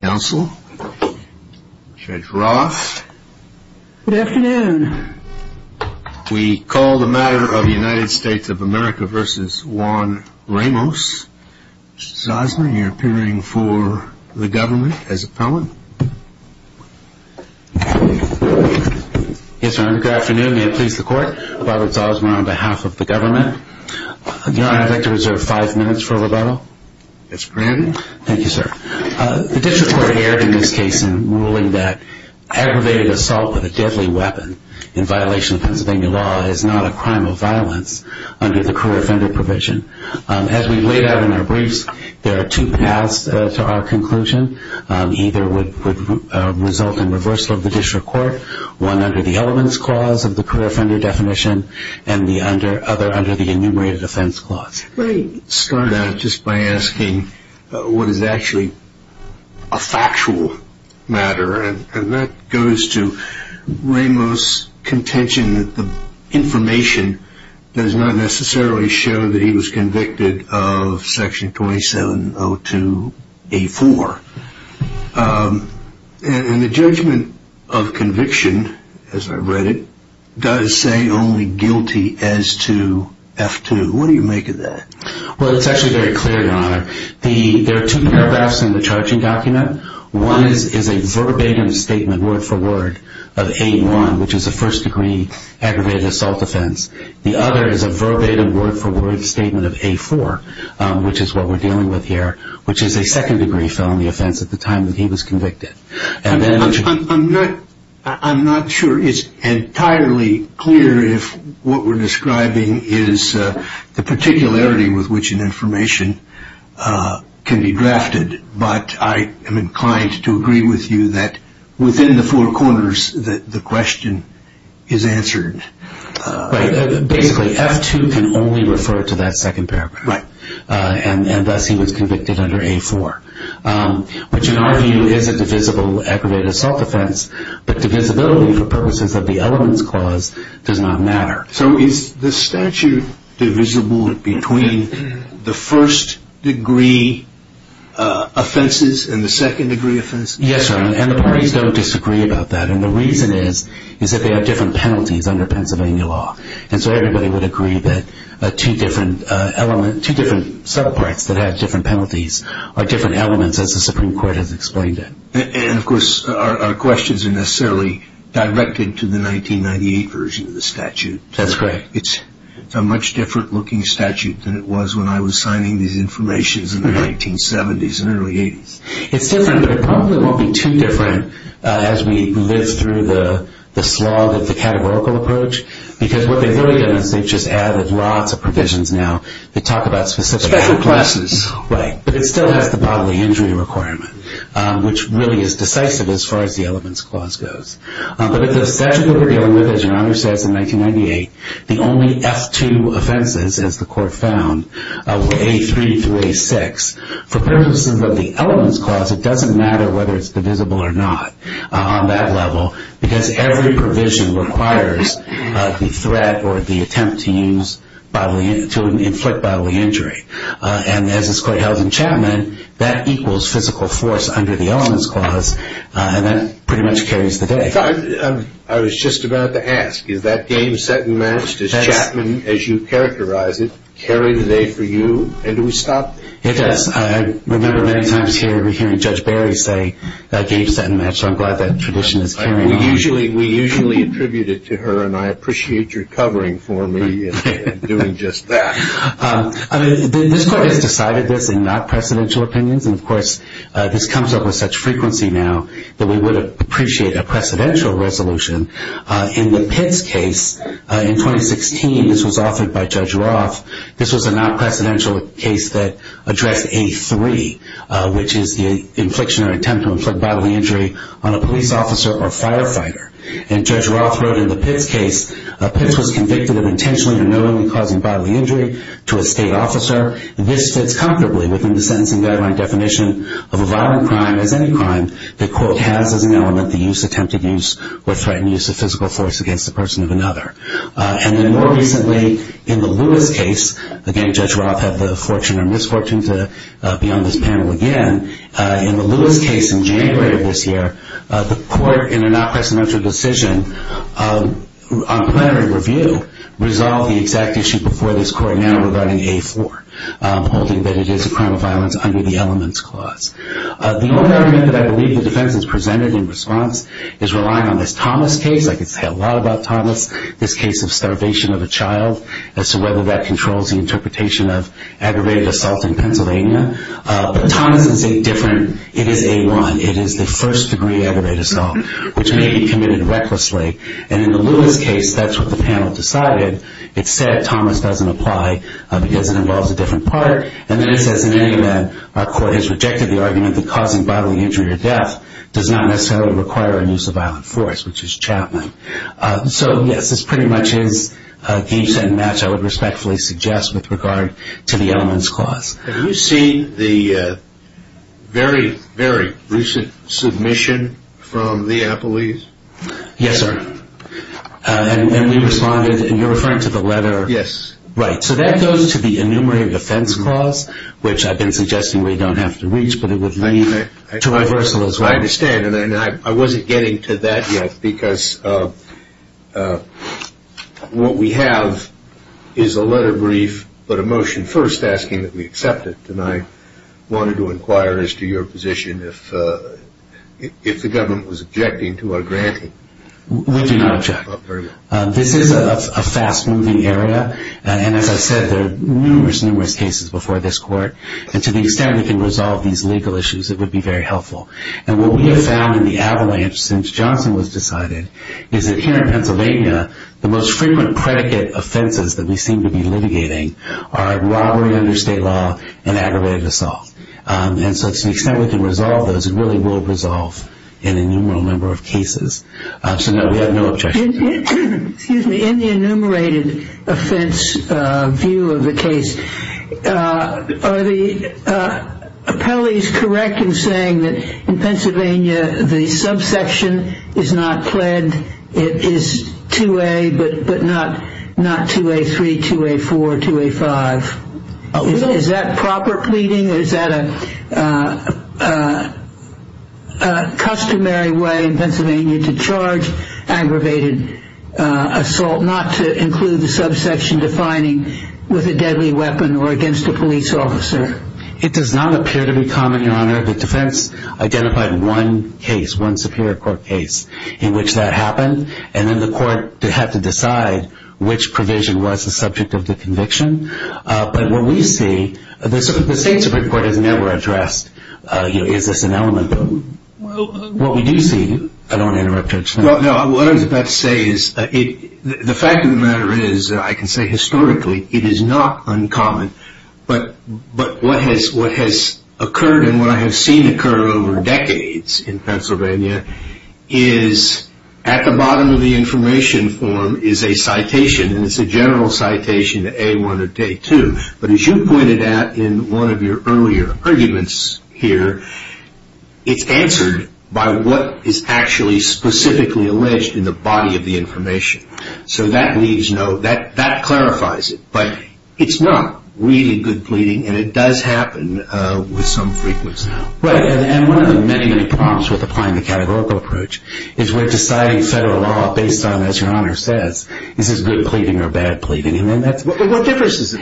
We call the matter of the United States of America v. Juan Ramos. Mr. Zosman, you're appearing for the government as appellant. Yes, Your Honor. Good afternoon. May it please the Court. Robert Zosman on behalf of the government. Your Honor, I'd like to reserve five minutes for rebuttal. Yes, granted. Thank you, sir. The district court erred in this case in ruling that aggravated assault with a deadly weapon in violation of Pennsylvania law is not a crime of violence under the career offender provision. As we laid out in our briefs, there are two paths to our conclusion. Either would result in reversal of the district court, one under the elements clause of the career offender definition, and the other under the law enforcement definition. I'd like to begin by asking what is actually a factual matter. That goes to Ramos' contention that the information does not necessarily show that he was convicted of Section 2702A4. The judgment of conviction, as I read it, does say only guilty as to F-2. What do you make of that? Well, it's actually very clear, Your Honor. There are two paragraphs in the charging document. One is a verbatim statement, word for word, of A1, which is a first degree aggravated assault offense. The other is a verbatim, word for word, statement of A4, which is what we're dealing with here, which is a second degree felony offense at the time that he was convicted. I'm not sure it's entirely clear if what we're describing is the particularity with which an information can be drafted, but I am inclined to agree with you that within the four corners, the question is answered. Basically, F-2 can only refer to that second paragraph, and thus he was convicted under A-4, which in our view is a divisible aggravated assault offense, but divisibility for purposes of the elements clause does not matter. So is the statute divisible between the first degree offenses and the second degree offenses? Yes, Your Honor, and the parties don't disagree about that, and the reason is that they have different penalties under Pennsylvania law, and so everybody would agree that two different subparts that have different penalties are different elements as the Supreme Court has explained it. And of course, our questions are necessarily directed to the 1998 version of the statute. That's correct. It's a much different looking statute than it was when I was signing these informations in the 1970s and early 80s. It's different, but it probably won't be too different as we live through the slog of the categorical approach, because what they've really done is they've just added lots of provisions now that talk about specific classes, but it still has the bodily injury requirement, which really is decisive as far as the elements clause goes. But if the statute that we're dealing with, as Your Honor says, in 1998, the only F-2 offenses, as the court found, were A-3 through A-6. For purposes of the elements clause, it doesn't matter whether it's divisible or not on that level, because every provision requires the threat or the attempt to use bodily, to inflict bodily injury. And as this court held in Chapman, that equals physical force under the elements clause, and that pretty much carries the day. I was just about to ask, is that game set and matched, as Chapman, as you characterize it, carry the day for you? And do we stop? It does. I remember many times hearing Judge Barry say, that game's set and matched. I'm glad that tradition is carrying on. We usually attribute it to her, and I appreciate your covering for me in doing just that. This court has decided this in not-precedential opinions, and of course, this comes up with such frequency now, that we would appreciate a precedential resolution. In the Pitts case, in 2016, this was offered by Judge Roth. This was a not-precedential case that addressed A-3, which is the infliction or attempt to inflict bodily injury on a police officer or firefighter. And Judge Roth wrote in the Pitts case, Pitts was convicted of intentionally or knowingly causing bodily injury to a state officer. This fits comfortably within the sentencing guideline definition of a violent crime as any crime, the court has as an element the use, attempted use, or threatened use of physical force against a person of another. And then more recently, in the Lewis case, again, Judge Roth had the fortune or misfortune to be on this panel again. In the Lewis case in January of this year, the court in a not-precedential decision on plenary review, resolved the exact issue before this court now regarding A-4, holding that it is a crime of violence under the Elements Clause. The only argument that I believe the defense has presented in response is relying on this Thomas case. I could say a lot about Thomas, this case of starvation of a child, as to whether that controls the interpretation of aggravated assault in Pennsylvania. But Thomas is a different, it is A-1, it is the first degree aggravated assault, which may be committed recklessly. And in the Lewis case, that's what the panel decided. It said Thomas doesn't apply because it involves a different partner. And then it says in any event, our court has rejected the argument that causing bodily injury or death does not necessarily require a use of violent force, which is Chapman. So yes, this pretty much is a game-setting match I would respectfully suggest with regard to the Elements Clause. Have you seen the very, very recent submission from the Appellees? Yes, sir. And we responded, and you're referring to the letter? Yes. Right. So that goes to the Enumerated Offense Clause, which I've been suggesting we don't have to reach, but it would lead to reversal as well. I understand, and I wasn't getting to that yet, because what we have is a letter brief, but a motion first asking that we accept it. And I wanted to inquire as to your position if the government was objecting to our granting. We do not object. This is a fast-moving area, and as I said, there are numerous, numerous cases before this court. And to the extent we can resolve these legal issues, it would be very helpful. And what we have found in the avalanche since Johnson was decided is that here in Pennsylvania, the most frequent predicate offenses that we seem to be litigating are robbery under state law and aggravated assault. And so to the extent we can resolve those, it really will resolve an innumerable number of cases. So no, we have no objection. Excuse me. In the Enumerated Offense view of the case, are the appellees correct in saying that in Pennsylvania, the subsection is not pled, it is 2A, but not 2A3, 2A4, 2A5? Is that proper pleading? Is that a customary way in Pennsylvania to charge aggravated assault, not to include the subsection defining with a deadly weapon or against a police officer? It does not appear to be common, Your Honor. The defense identified one case, one Superior Court case in which that happened, and then the court had to decide which provision was the subject of the conviction. But what we see, the state Supreme Court has never addressed is this an element. What we do see, I don't want to interrupt Judge. No, what I was about to say is, the fact of the matter is, I can say historically, it is not uncommon, but what has occurred and what I have seen occur over decades in Pennsylvania is, at the bottom of the information form is a citation, and it's a general citation to A1 or A2, but as you pointed out in one of your earlier arguments here, it's answered by what is actually specifically alleged in the body of the information. So that leaves it, but it's not really good pleading, and it does happen with some frequency. Right, and one of the many, many problems with applying the categorical approach is we're deciding federal law based on, as Your Honor says, is this good pleading or bad pleading? What difference does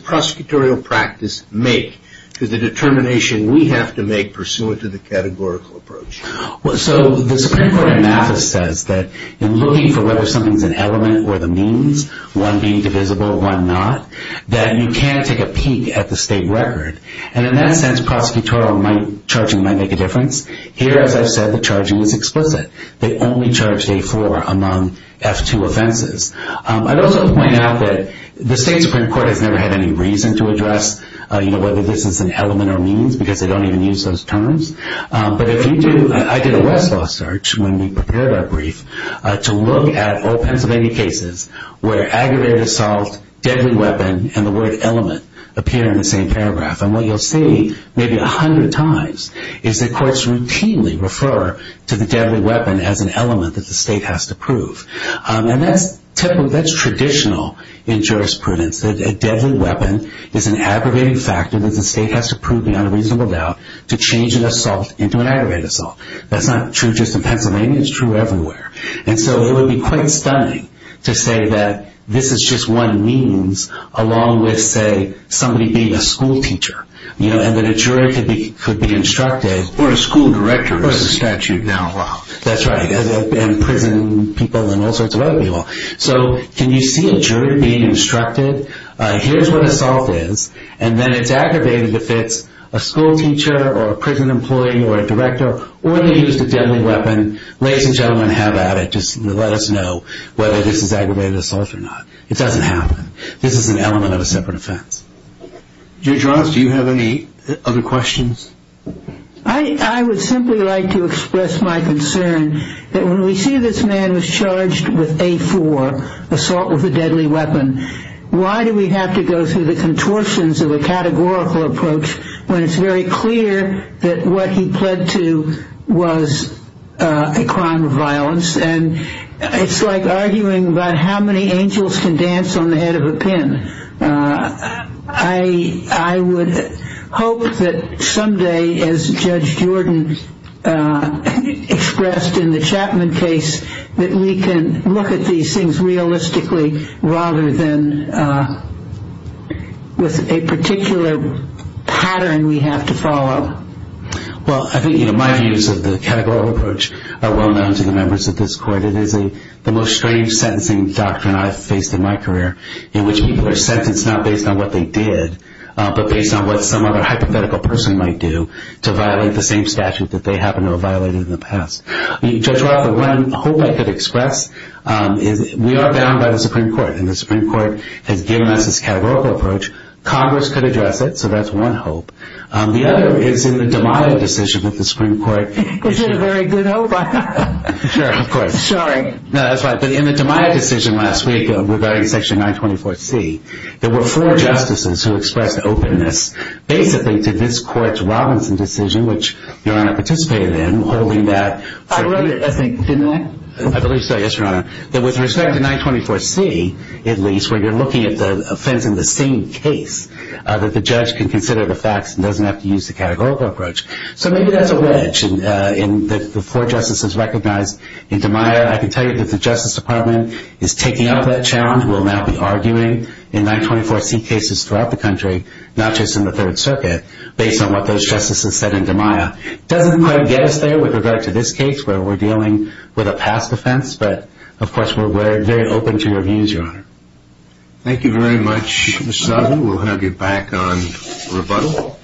prosecutorial practice make to the determination we have to make pursuant to the categorical approach? Well, so the Supreme Court in Mathis says that in looking for whether something is an element or the means, one being divisible, one not, that you can take a peek at the state record, and in that sense, prosecutorial charging might make a difference. Here, as I've said, the charging is explicit. They only charge A4 among F2 offenses. I'd also point out that the state Supreme Court has never had any reason to address whether this is an element or means, because they don't even use those terms. But if you do, I did a Westlaw search when we prepared our brief to look at old Pennsylvania cases where aggravated assault, deadly weapon, and the word element appear in the same paragraph. And what you'll see maybe 100 times is that courts routinely refer to the deadly weapon as an element that the state has to prove. And that's typical, that's traditional in jurisprudence, that a deadly weapon is an aggravated factor that the state has to prove beyond a reasonable doubt to change an assault into an aggravated assault. That's not true just in Pennsylvania, it's true everywhere. And so it would be quite stunning to say that this is just one means along with, say, somebody being a school teacher, and that a jury could be instructed. Or a school director, as the statute now allows. That's right, and prison people and all sorts of other people. So can you see a jury being told what assault is, and then it's aggravated if it's a school teacher or a prison employee or a director, or they used a deadly weapon. Ladies and gentlemen, have at it, just let us know whether this is aggravated assault or not. It doesn't happen. This is an element of a separate offense. Judge Ross, do you have any other questions? I would simply like to express my concern that when we see this man was charged with the contortions of a categorical approach, when it's very clear that what he pled to was a crime of violence, and it's like arguing about how many angels can dance on the head of a pin. I would hope that someday, as Judge Jordan expressed in the Chapman case, that we can look at these things realistically rather than with a particular pattern we have to follow. Well, I think my views of the categorical approach are well known to the members of this court. It is the most strange sentencing doctrine I've faced in my career, in which people are sentenced not based on what they did, but based on what some other hypothetical person might do to violate the same statute that they happen to have violated in the past. Judge Ross, the one hope I could express is we are bound by the Supreme Court, and the Supreme Court has given us this categorical approach. Congress could address it, so that's one hope. The other is in the DeMaio decision with the Supreme Court. Is it a very good hope? Sure, of course. Sorry. No, that's fine. But in the DeMaio decision last week regarding Section 924C, there were four justices who expressed openness basically to this court's Robinson decision, which I believe so, yes, Your Honor, that with respect to 924C, at least, where you're looking at the offense in the same case, that the judge can consider the facts and doesn't have to use the categorical approach. So maybe that's a wedge in the four justices recognized in DeMaio. I can tell you that the Justice Department is taking up that challenge, will now be arguing in 924C cases throughout the country, not just in the Third Circuit, based on what those justices have said, but in this case, where we're dealing with a past offense. But, of course, we're very open to your views, Your Honor. Thank you very much, Mr. Zaghi. We'll now get back on rebuttal.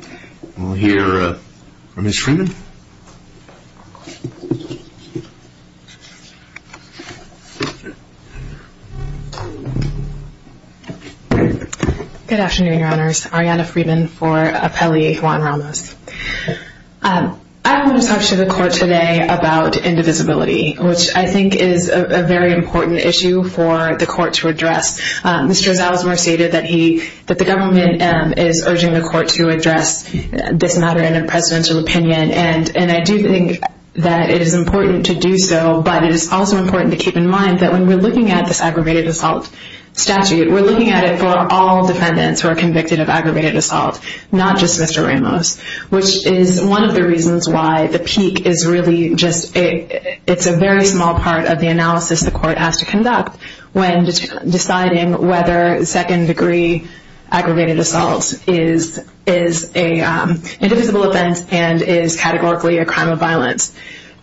We'll hear from Ms. Freeman. Good afternoon, Your Honors. Arianna Freeman for Appellee Juan Ramos. I want to talk to the court today about indivisibility, which I think is a very important issue for the court to address. Mr. Zalesmer stated that the government is urging the court to address this matter in a presidential opinion, and I do think that it is important to do so, but it is also important to keep in mind that when we're looking at this aggravated assault statute, we're looking at it for all defendants who are convicted of aggravated assault, not just Mr. Ramos, which is one of the reasons why the PEEQ is really just a very small part of the analysis the court has to conduct when deciding whether second-degree aggravated assault is an indivisible offense and is categorically a crime of violence.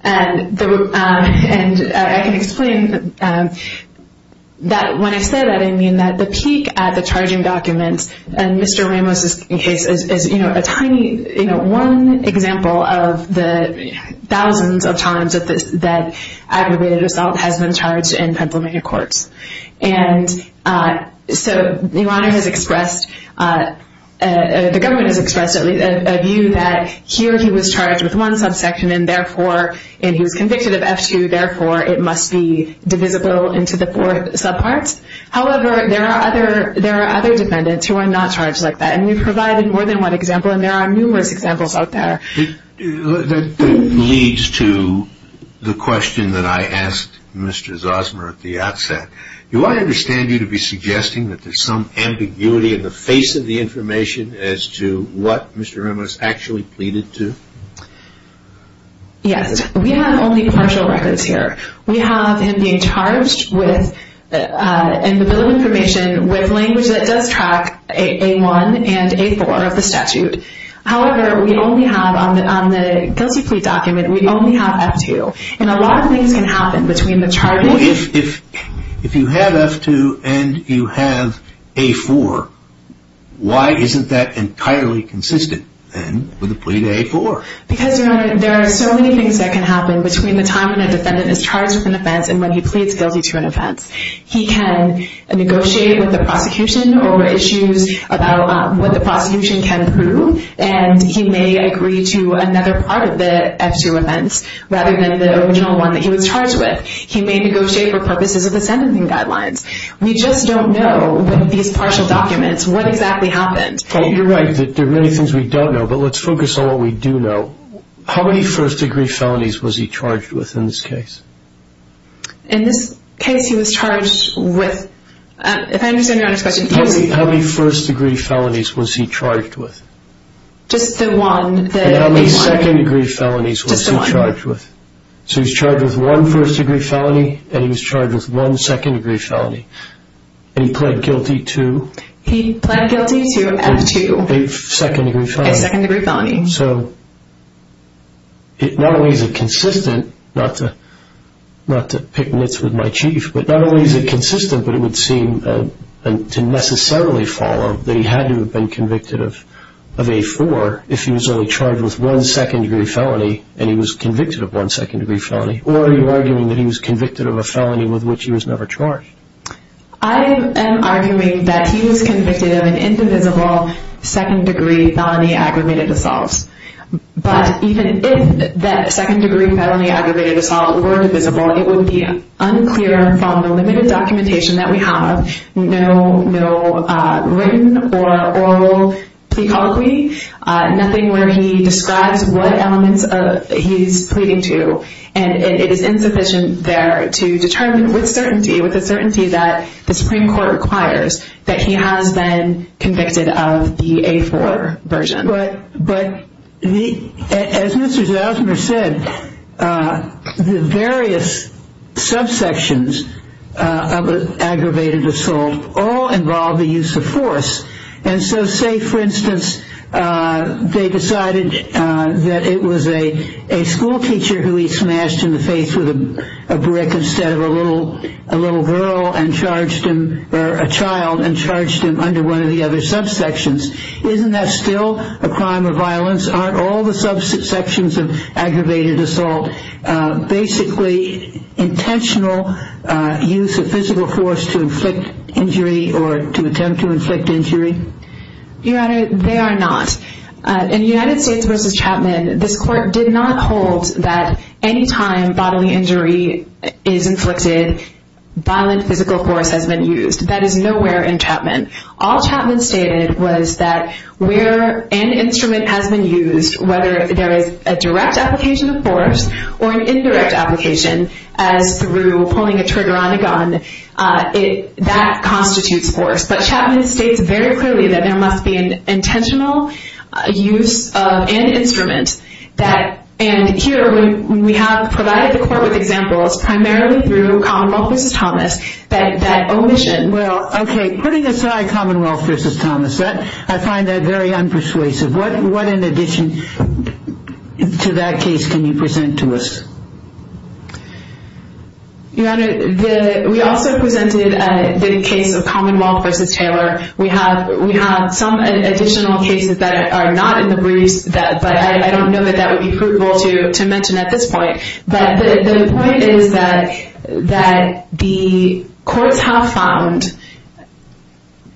And I can explain that when I say that, I mean that the PEEQ at the charging documents, and Mr. Ramos' case, is one example of the thousands of times that aggravated assault has been charged in Pennsylvania courts. And so Your Honor has expressed, the government has expressed a view that here he was charged with one subsection, and therefore, and he was convicted of F-2, therefore it must be divisible into the fourth subpart. However, there are other defendants who are not charged like that, and we've provided more than one example, and there are numerous examples out there. That leads to the question that I asked Mr. Zosmer at the outset. Do I understand you to be suggesting that there's some ambiguity in the face of the information as to what Mr. Ramos actually pleaded to? Yes. We have only partial records here. We have him being charged with, in the bill of rights, A-1 and A-4 of the statute. However, we only have, on the guilty plea document, we only have F-2. And a lot of things can happen between the charges. If you have F-2 and you have A-4, why isn't that entirely consistent then with the plea to A-4? Because Your Honor, there are so many things that can happen between the time when a defendant is charged with an offense and when he pleads guilty to an offense. He can negotiate with the prosecution over issues about what the prosecution can prove, and he may agree to another part of the F-2 events rather than the original one that he was charged with. He may negotiate for purposes of the sentencing guidelines. We just don't know with these partial documents what exactly happened. You're right. There are many things we don't know, but let's focus on what we do know. How many first-degree felonies was he charged with in this case? In this case, he was charged with, if I understand Your Honor's question, How many first-degree felonies was he charged with? Just the one. And how many second-degree felonies was he charged with? Just the one. So he was charged with one first-degree felony, and he was charged with one second-degree felony. And he pled guilty to? He pled guilty to F-2. A second-degree felony. A second-degree felony. So, not only is it consistent, not to pick nits with my chief, but not only is it consistent, but it would seem to necessarily follow that he had to have been convicted of A-4 if he was only charged with one second-degree felony, and he was convicted of one second-degree felony. Or are you arguing that he was convicted of a felony with which he was never charged? I am arguing that he was convicted of an indivisible second-degree felony aggravated assault. But even if that second-degree felony aggravated assault were indivisible, it would be unclear from the limited documentation that we have, no written or oral plea colloquy, nothing where he describes what elements he's pleading to. And it is insufficient there to determine with certainty, with the certainty that the Supreme Court requires that he has been convicted of the A-4 version. But as Mr. Zausmer said, the various subsections of an aggravated assault all involve the use of force. And so say, for instance, they decided that it was a school teacher who he smashed in the face with a brick instead of a little girl and charged him, or a child, and charged him under one of the other subsections. Isn't that still a crime of violence? Aren't all the subsections of aggravated assault basically intentional use of physical force to inflict injury or to attempt to inflict injury? Your Honor, they are not. In United States v. Chapman, this Court did not hold that any time bodily injury is inflicted, violent physical force has been used. That is nowhere in Chapman. All Chapman stated was that where an instrument has been used, whether there is a direct application of force or an indirect application, as through pulling a trigger on a gun, that constitutes force. But Chapman states very clearly that there must be an intentional use of an instrument. And here we have provided the Court with examples, primarily through Commonwealth v. Thomas, that omission. Well, okay, putting aside Commonwealth v. Thomas, I find that very unpersuasive. What in addition to that case can you present to us? Your Honor, we also presented the case of Commonwealth v. Taylor. We have some additional cases that are not in the briefs, but I don't know that that would be prudent to mention at this point. But the point is that the courts have found,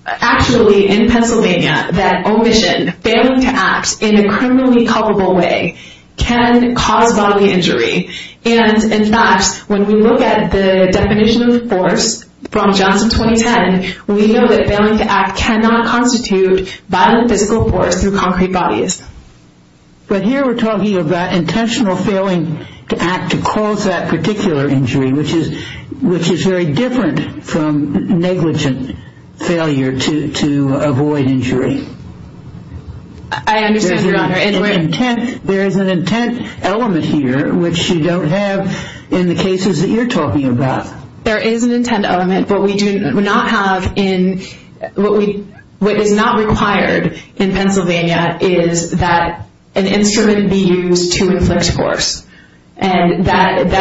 actually in Pennsylvania, that omission, failing to act in a criminally culpable way, can cause bodily injury. And in fact, when we look at the definition of force from Johnson 2010, we know that failing to act cannot constitute violent physical force through concrete bodies. But here we're talking about intentional failing to act to cause that particular injury, which is very different from negligent failure to avoid injury. I understand, Your Honor. There is an intent element here, which you don't have in the cases that you're talking about. There is an intent element, but what is not required in Pennsylvania is that an instrument be used to inflict force. I've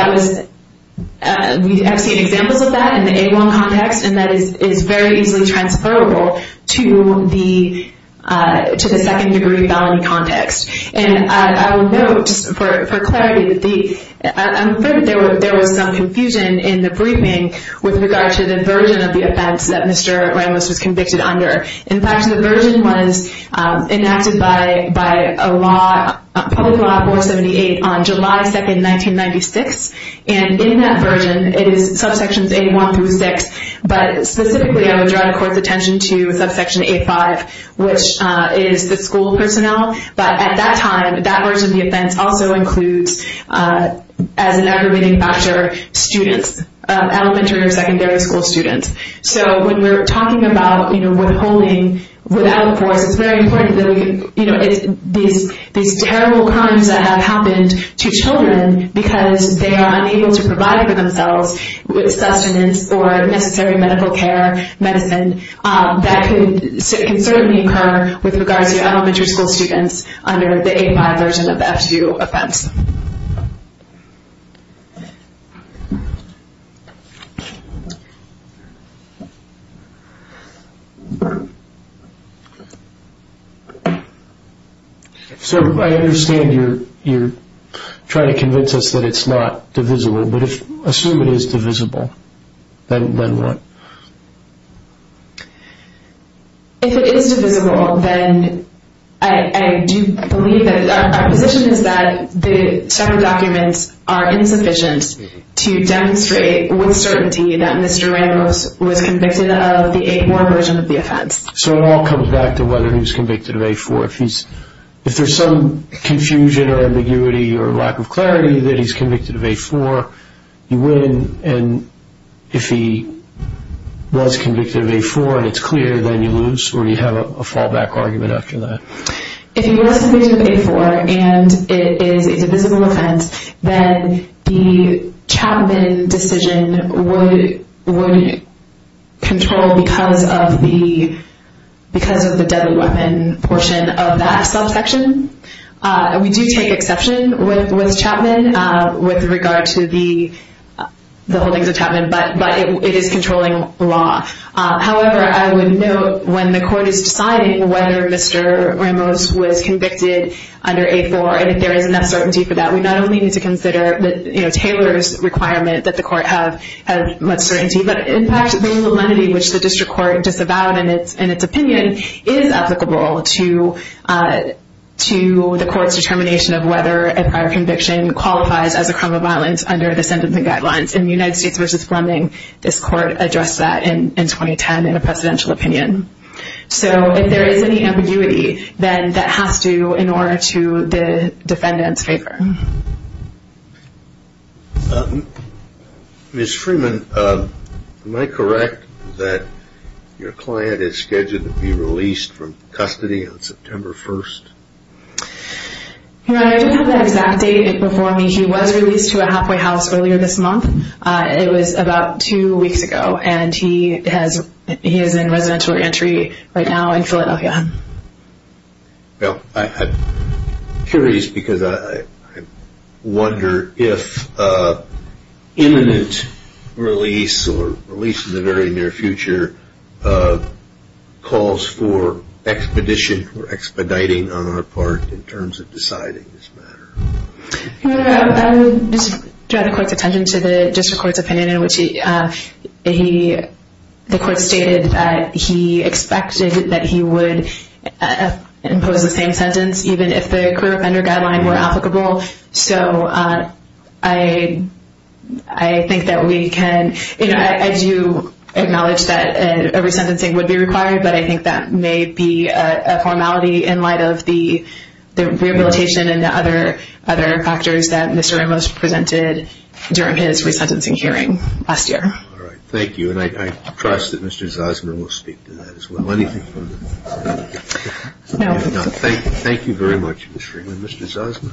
seen examples of that in the A1 context, and that is very easily transferable to the second-degree felony context. And I will note, just for clarity, I'm afraid that there was some confusion in the briefing with regard to the version of the offense that Mr. Ramos was convicted under. In fact, the version was enacted by public law 478 on July 2, 1996. And in that version, it is subsections A1 through 6, but specifically I would draw the Court's attention to subsection A5, which is the school personnel. But at that time, that version of the offense also includes, as an aggravating factor, students, elementary or secondary school students. So when we're talking about withholding without force, it's very important that these terrible crimes that have happened to children because they are unable to provide for themselves with sustenance or necessary medical care, medicine, that can certainly occur with regard to elementary school students under the A5 version of the F2 offense. So I understand you're trying to convince us that it's not divisible, but assume it is divisible, then what? If it is divisible, then I do believe that our position is that the several documents are insufficient to demonstrate with certainty that Mr. Ramos was convicted of the A1 version of the offense. So it all comes back to whether he was convicted of A4. If there's some confusion or ambiguity or lack of clarity that he's convicted of A4, you win. And if he was convicted of A4 and it's clear, then you lose, or do you have a fallback argument after that? If he was convicted of A4 and it is a divisible offense, then the Chapman decision would control because of the deadly weapon portion of that subsection. We do take exception with Chapman with regard to the holdings of Chapman, but it is controlling law. However, I would note when the court is deciding whether Mr. Ramos was convicted under A4 and if there is enough certainty for that, we not only need to consider Taylor's requirement that the court have less certainty, but in fact, the validity which the district court disavowed in its opinion is applicable to the court's determination of whether a prior conviction qualifies as a crime of violence under the sentencing guidelines. In the United States v. Fleming, this court addressed that in 2010 in a presidential opinion. So if there is any ambiguity, then that has to in order to the defendant's favor. Ms. Freeman, am I correct that your client is scheduled to be released from custody on September 1st? I don't have the exact date. Before me, he was released to a halfway house earlier this month. It was about two weeks ago, and he is in residential entry right now in Philadelphia. I'm curious because I wonder if imminent release or release in the very near future calls for expedition or expediting on our part in terms of deciding this matter. I would just draw the court's attention to the district court's opinion in which the court stated that he expected that he would impose the same sentence even if the clear offender guideline were applicable. So I think that we can, you know, I do acknowledge that a resentencing would be required, but I think that may be a formality in light of the rehabilitation and other factors that Mr. Ramos presented during his resentencing hearing last year. Thank you, and I trust that Mr. Zosma will speak to that as well. Thank you very much, Mr. Freeman. Mr. Zosma?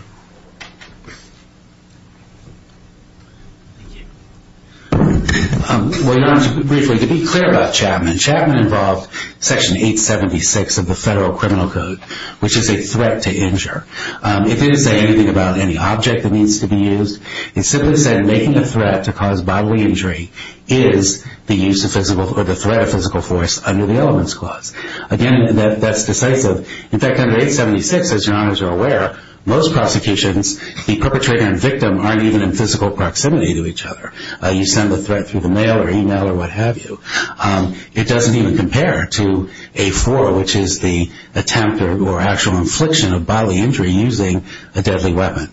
Well, Your Honor, briefly, to be clear about Chapman, Chapman involved Section 876 of the Federal Criminal Code, which is a threat to injure. If it is anything about any object that needs to be used, it simply said making a threat to cause bodily injury is the use of physical or the threat of physical force under the elements clause. Again, that's decisive. In fact, under 876, as Your Honors are aware, most prosecutions, the perpetrator and victim aren't even in physical proximity to each other. You send the threat through the mail or email or what have you. It doesn't even compare to A4, which is the attempt or actual infliction of bodily injury using a deadly weapon.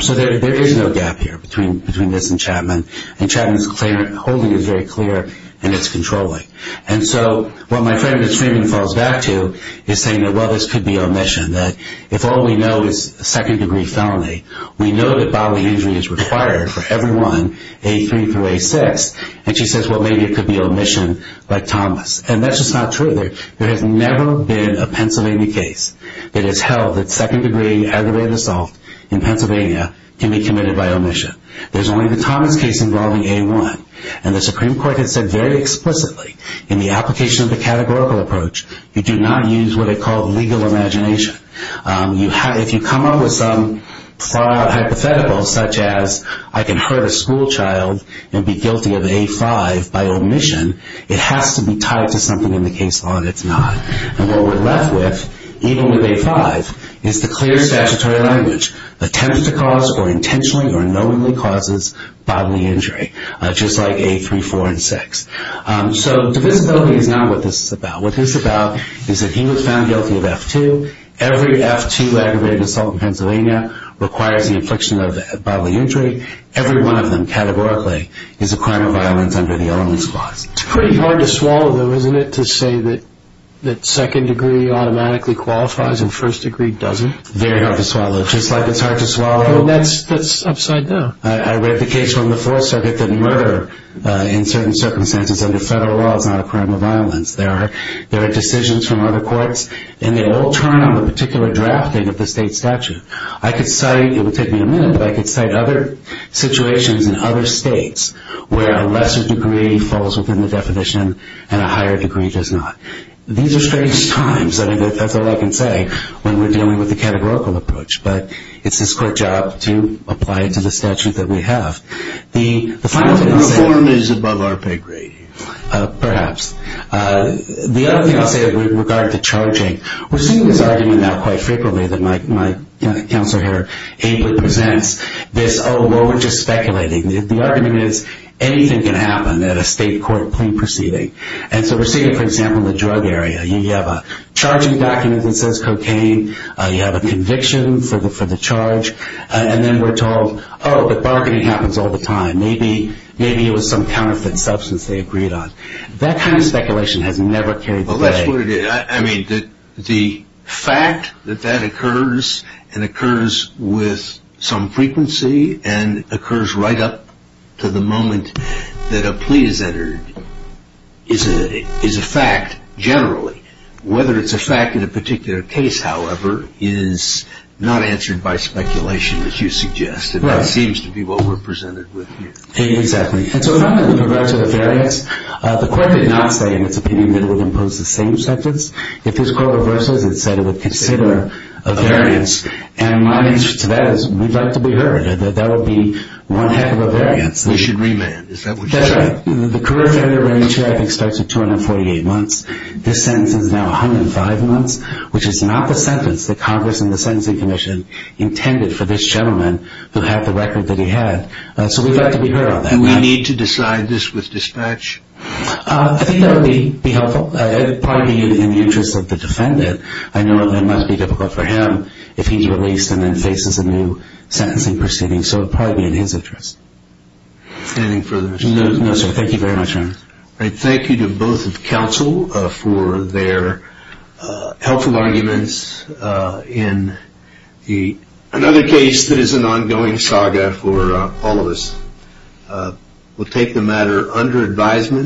So there is no gap here between this and Chapman, and Chapman's claim holding is very clear, and it's controlling. And so what my friend at Freeman falls back to is saying that, well, this could be omission, that if all we know is second-degree felony, we know that bodily injury is required for everyone A3 through A6, and she says, well, maybe it could be omission like Thomas. And that's just not true. There has never been a Pennsylvania case that has held that second-degree aggravated assault in Pennsylvania can be committed by omission. There's only the Thomas case involving A1, and the Supreme Court has said very explicitly in the application of the categorical approach, you do not use what they call legal imagination. If you come up with some far-out hypothetical, such as I can hurt a schoolchild and be guilty of A5 by omission, it has to be tied to something in the case law that's not. And what we're left with, even with A5, is the clear statutory language, attempts to cause or intentionally or knowingly causes bodily injury, just like A3, 4, and 6. So divisibility is not what this is about. What this is about is that he was found guilty of F2. Every F2 aggravated assault in Pennsylvania requires the infliction of bodily injury. Every one of them, categorically, is a crime of violence under the omission clause. It's pretty hard to swallow, though, isn't it, to say that second-degree automatically qualifies and first-degree doesn't? Very hard to swallow. Just like it's hard to swallow. That's upside down. I read the case from the Fourth Circuit that murder in certain circumstances under federal law is not a crime of violence. There are decisions from other courts, and they all turn on the particular drafting of the state statute. I could cite, it would take me a minute, but I could cite other situations in other states where a lesser degree falls within the definition and a higher degree does not. These are strange times. I mean, that's all I can say when we're dealing with the categorical approach, but it's this court's job to apply it to the statute that we have. The final thing I'll say. Reform is above our pay grade. Perhaps. The other thing I'll say with regard to charging, we're seeing this argument now quite frequently that my counselor here ably presents this, oh, well, we're just speculating. The argument is anything can happen at a state court plea proceeding. And so we're seeing it, for example, in the drug area. You have a charging document that says cocaine. You have a conviction for the charge. And then we're told, oh, but bargaining happens all the time. Maybe it was some counterfeit substance they agreed on. That kind of speculation has never carried the day. Well, that's what it is. I mean, the fact that that occurs and occurs with some frequency and occurs right up to the moment that a plea is entered is a fact generally. Whether it's a fact in a particular case, however, is not answered by speculation, as you suggested. It seems to be what we're presented with here. Exactly. And so with regard to a variance, the court did not say in its opinion that it would impose the same sentence. If this court reverses, it said it would consider a variance. And my answer to that is we'd like to be heard. That would be one heck of a variance. We should remand. Is that what you're saying? That's right. The career time to remand charge, I think, starts at 248 months. This sentence is now 105 months, which is not the sentence that Congress and the Sentencing Commission intended for this gentleman who had the record that he had. So we'd like to be heard on that. Do we need to decide this with dispatch? I think that would be helpful. It would probably be in the interest of the defendant. I know it must be difficult for him if he's released and then faces a new sentencing proceeding. So it would probably be in his interest. Anything further? No, sir. Thank you very much, Ernest. All right. Thank you to both of counsel for their helpful arguments. In another case that is an ongoing saga for all of us, we'll take the matter under advisement.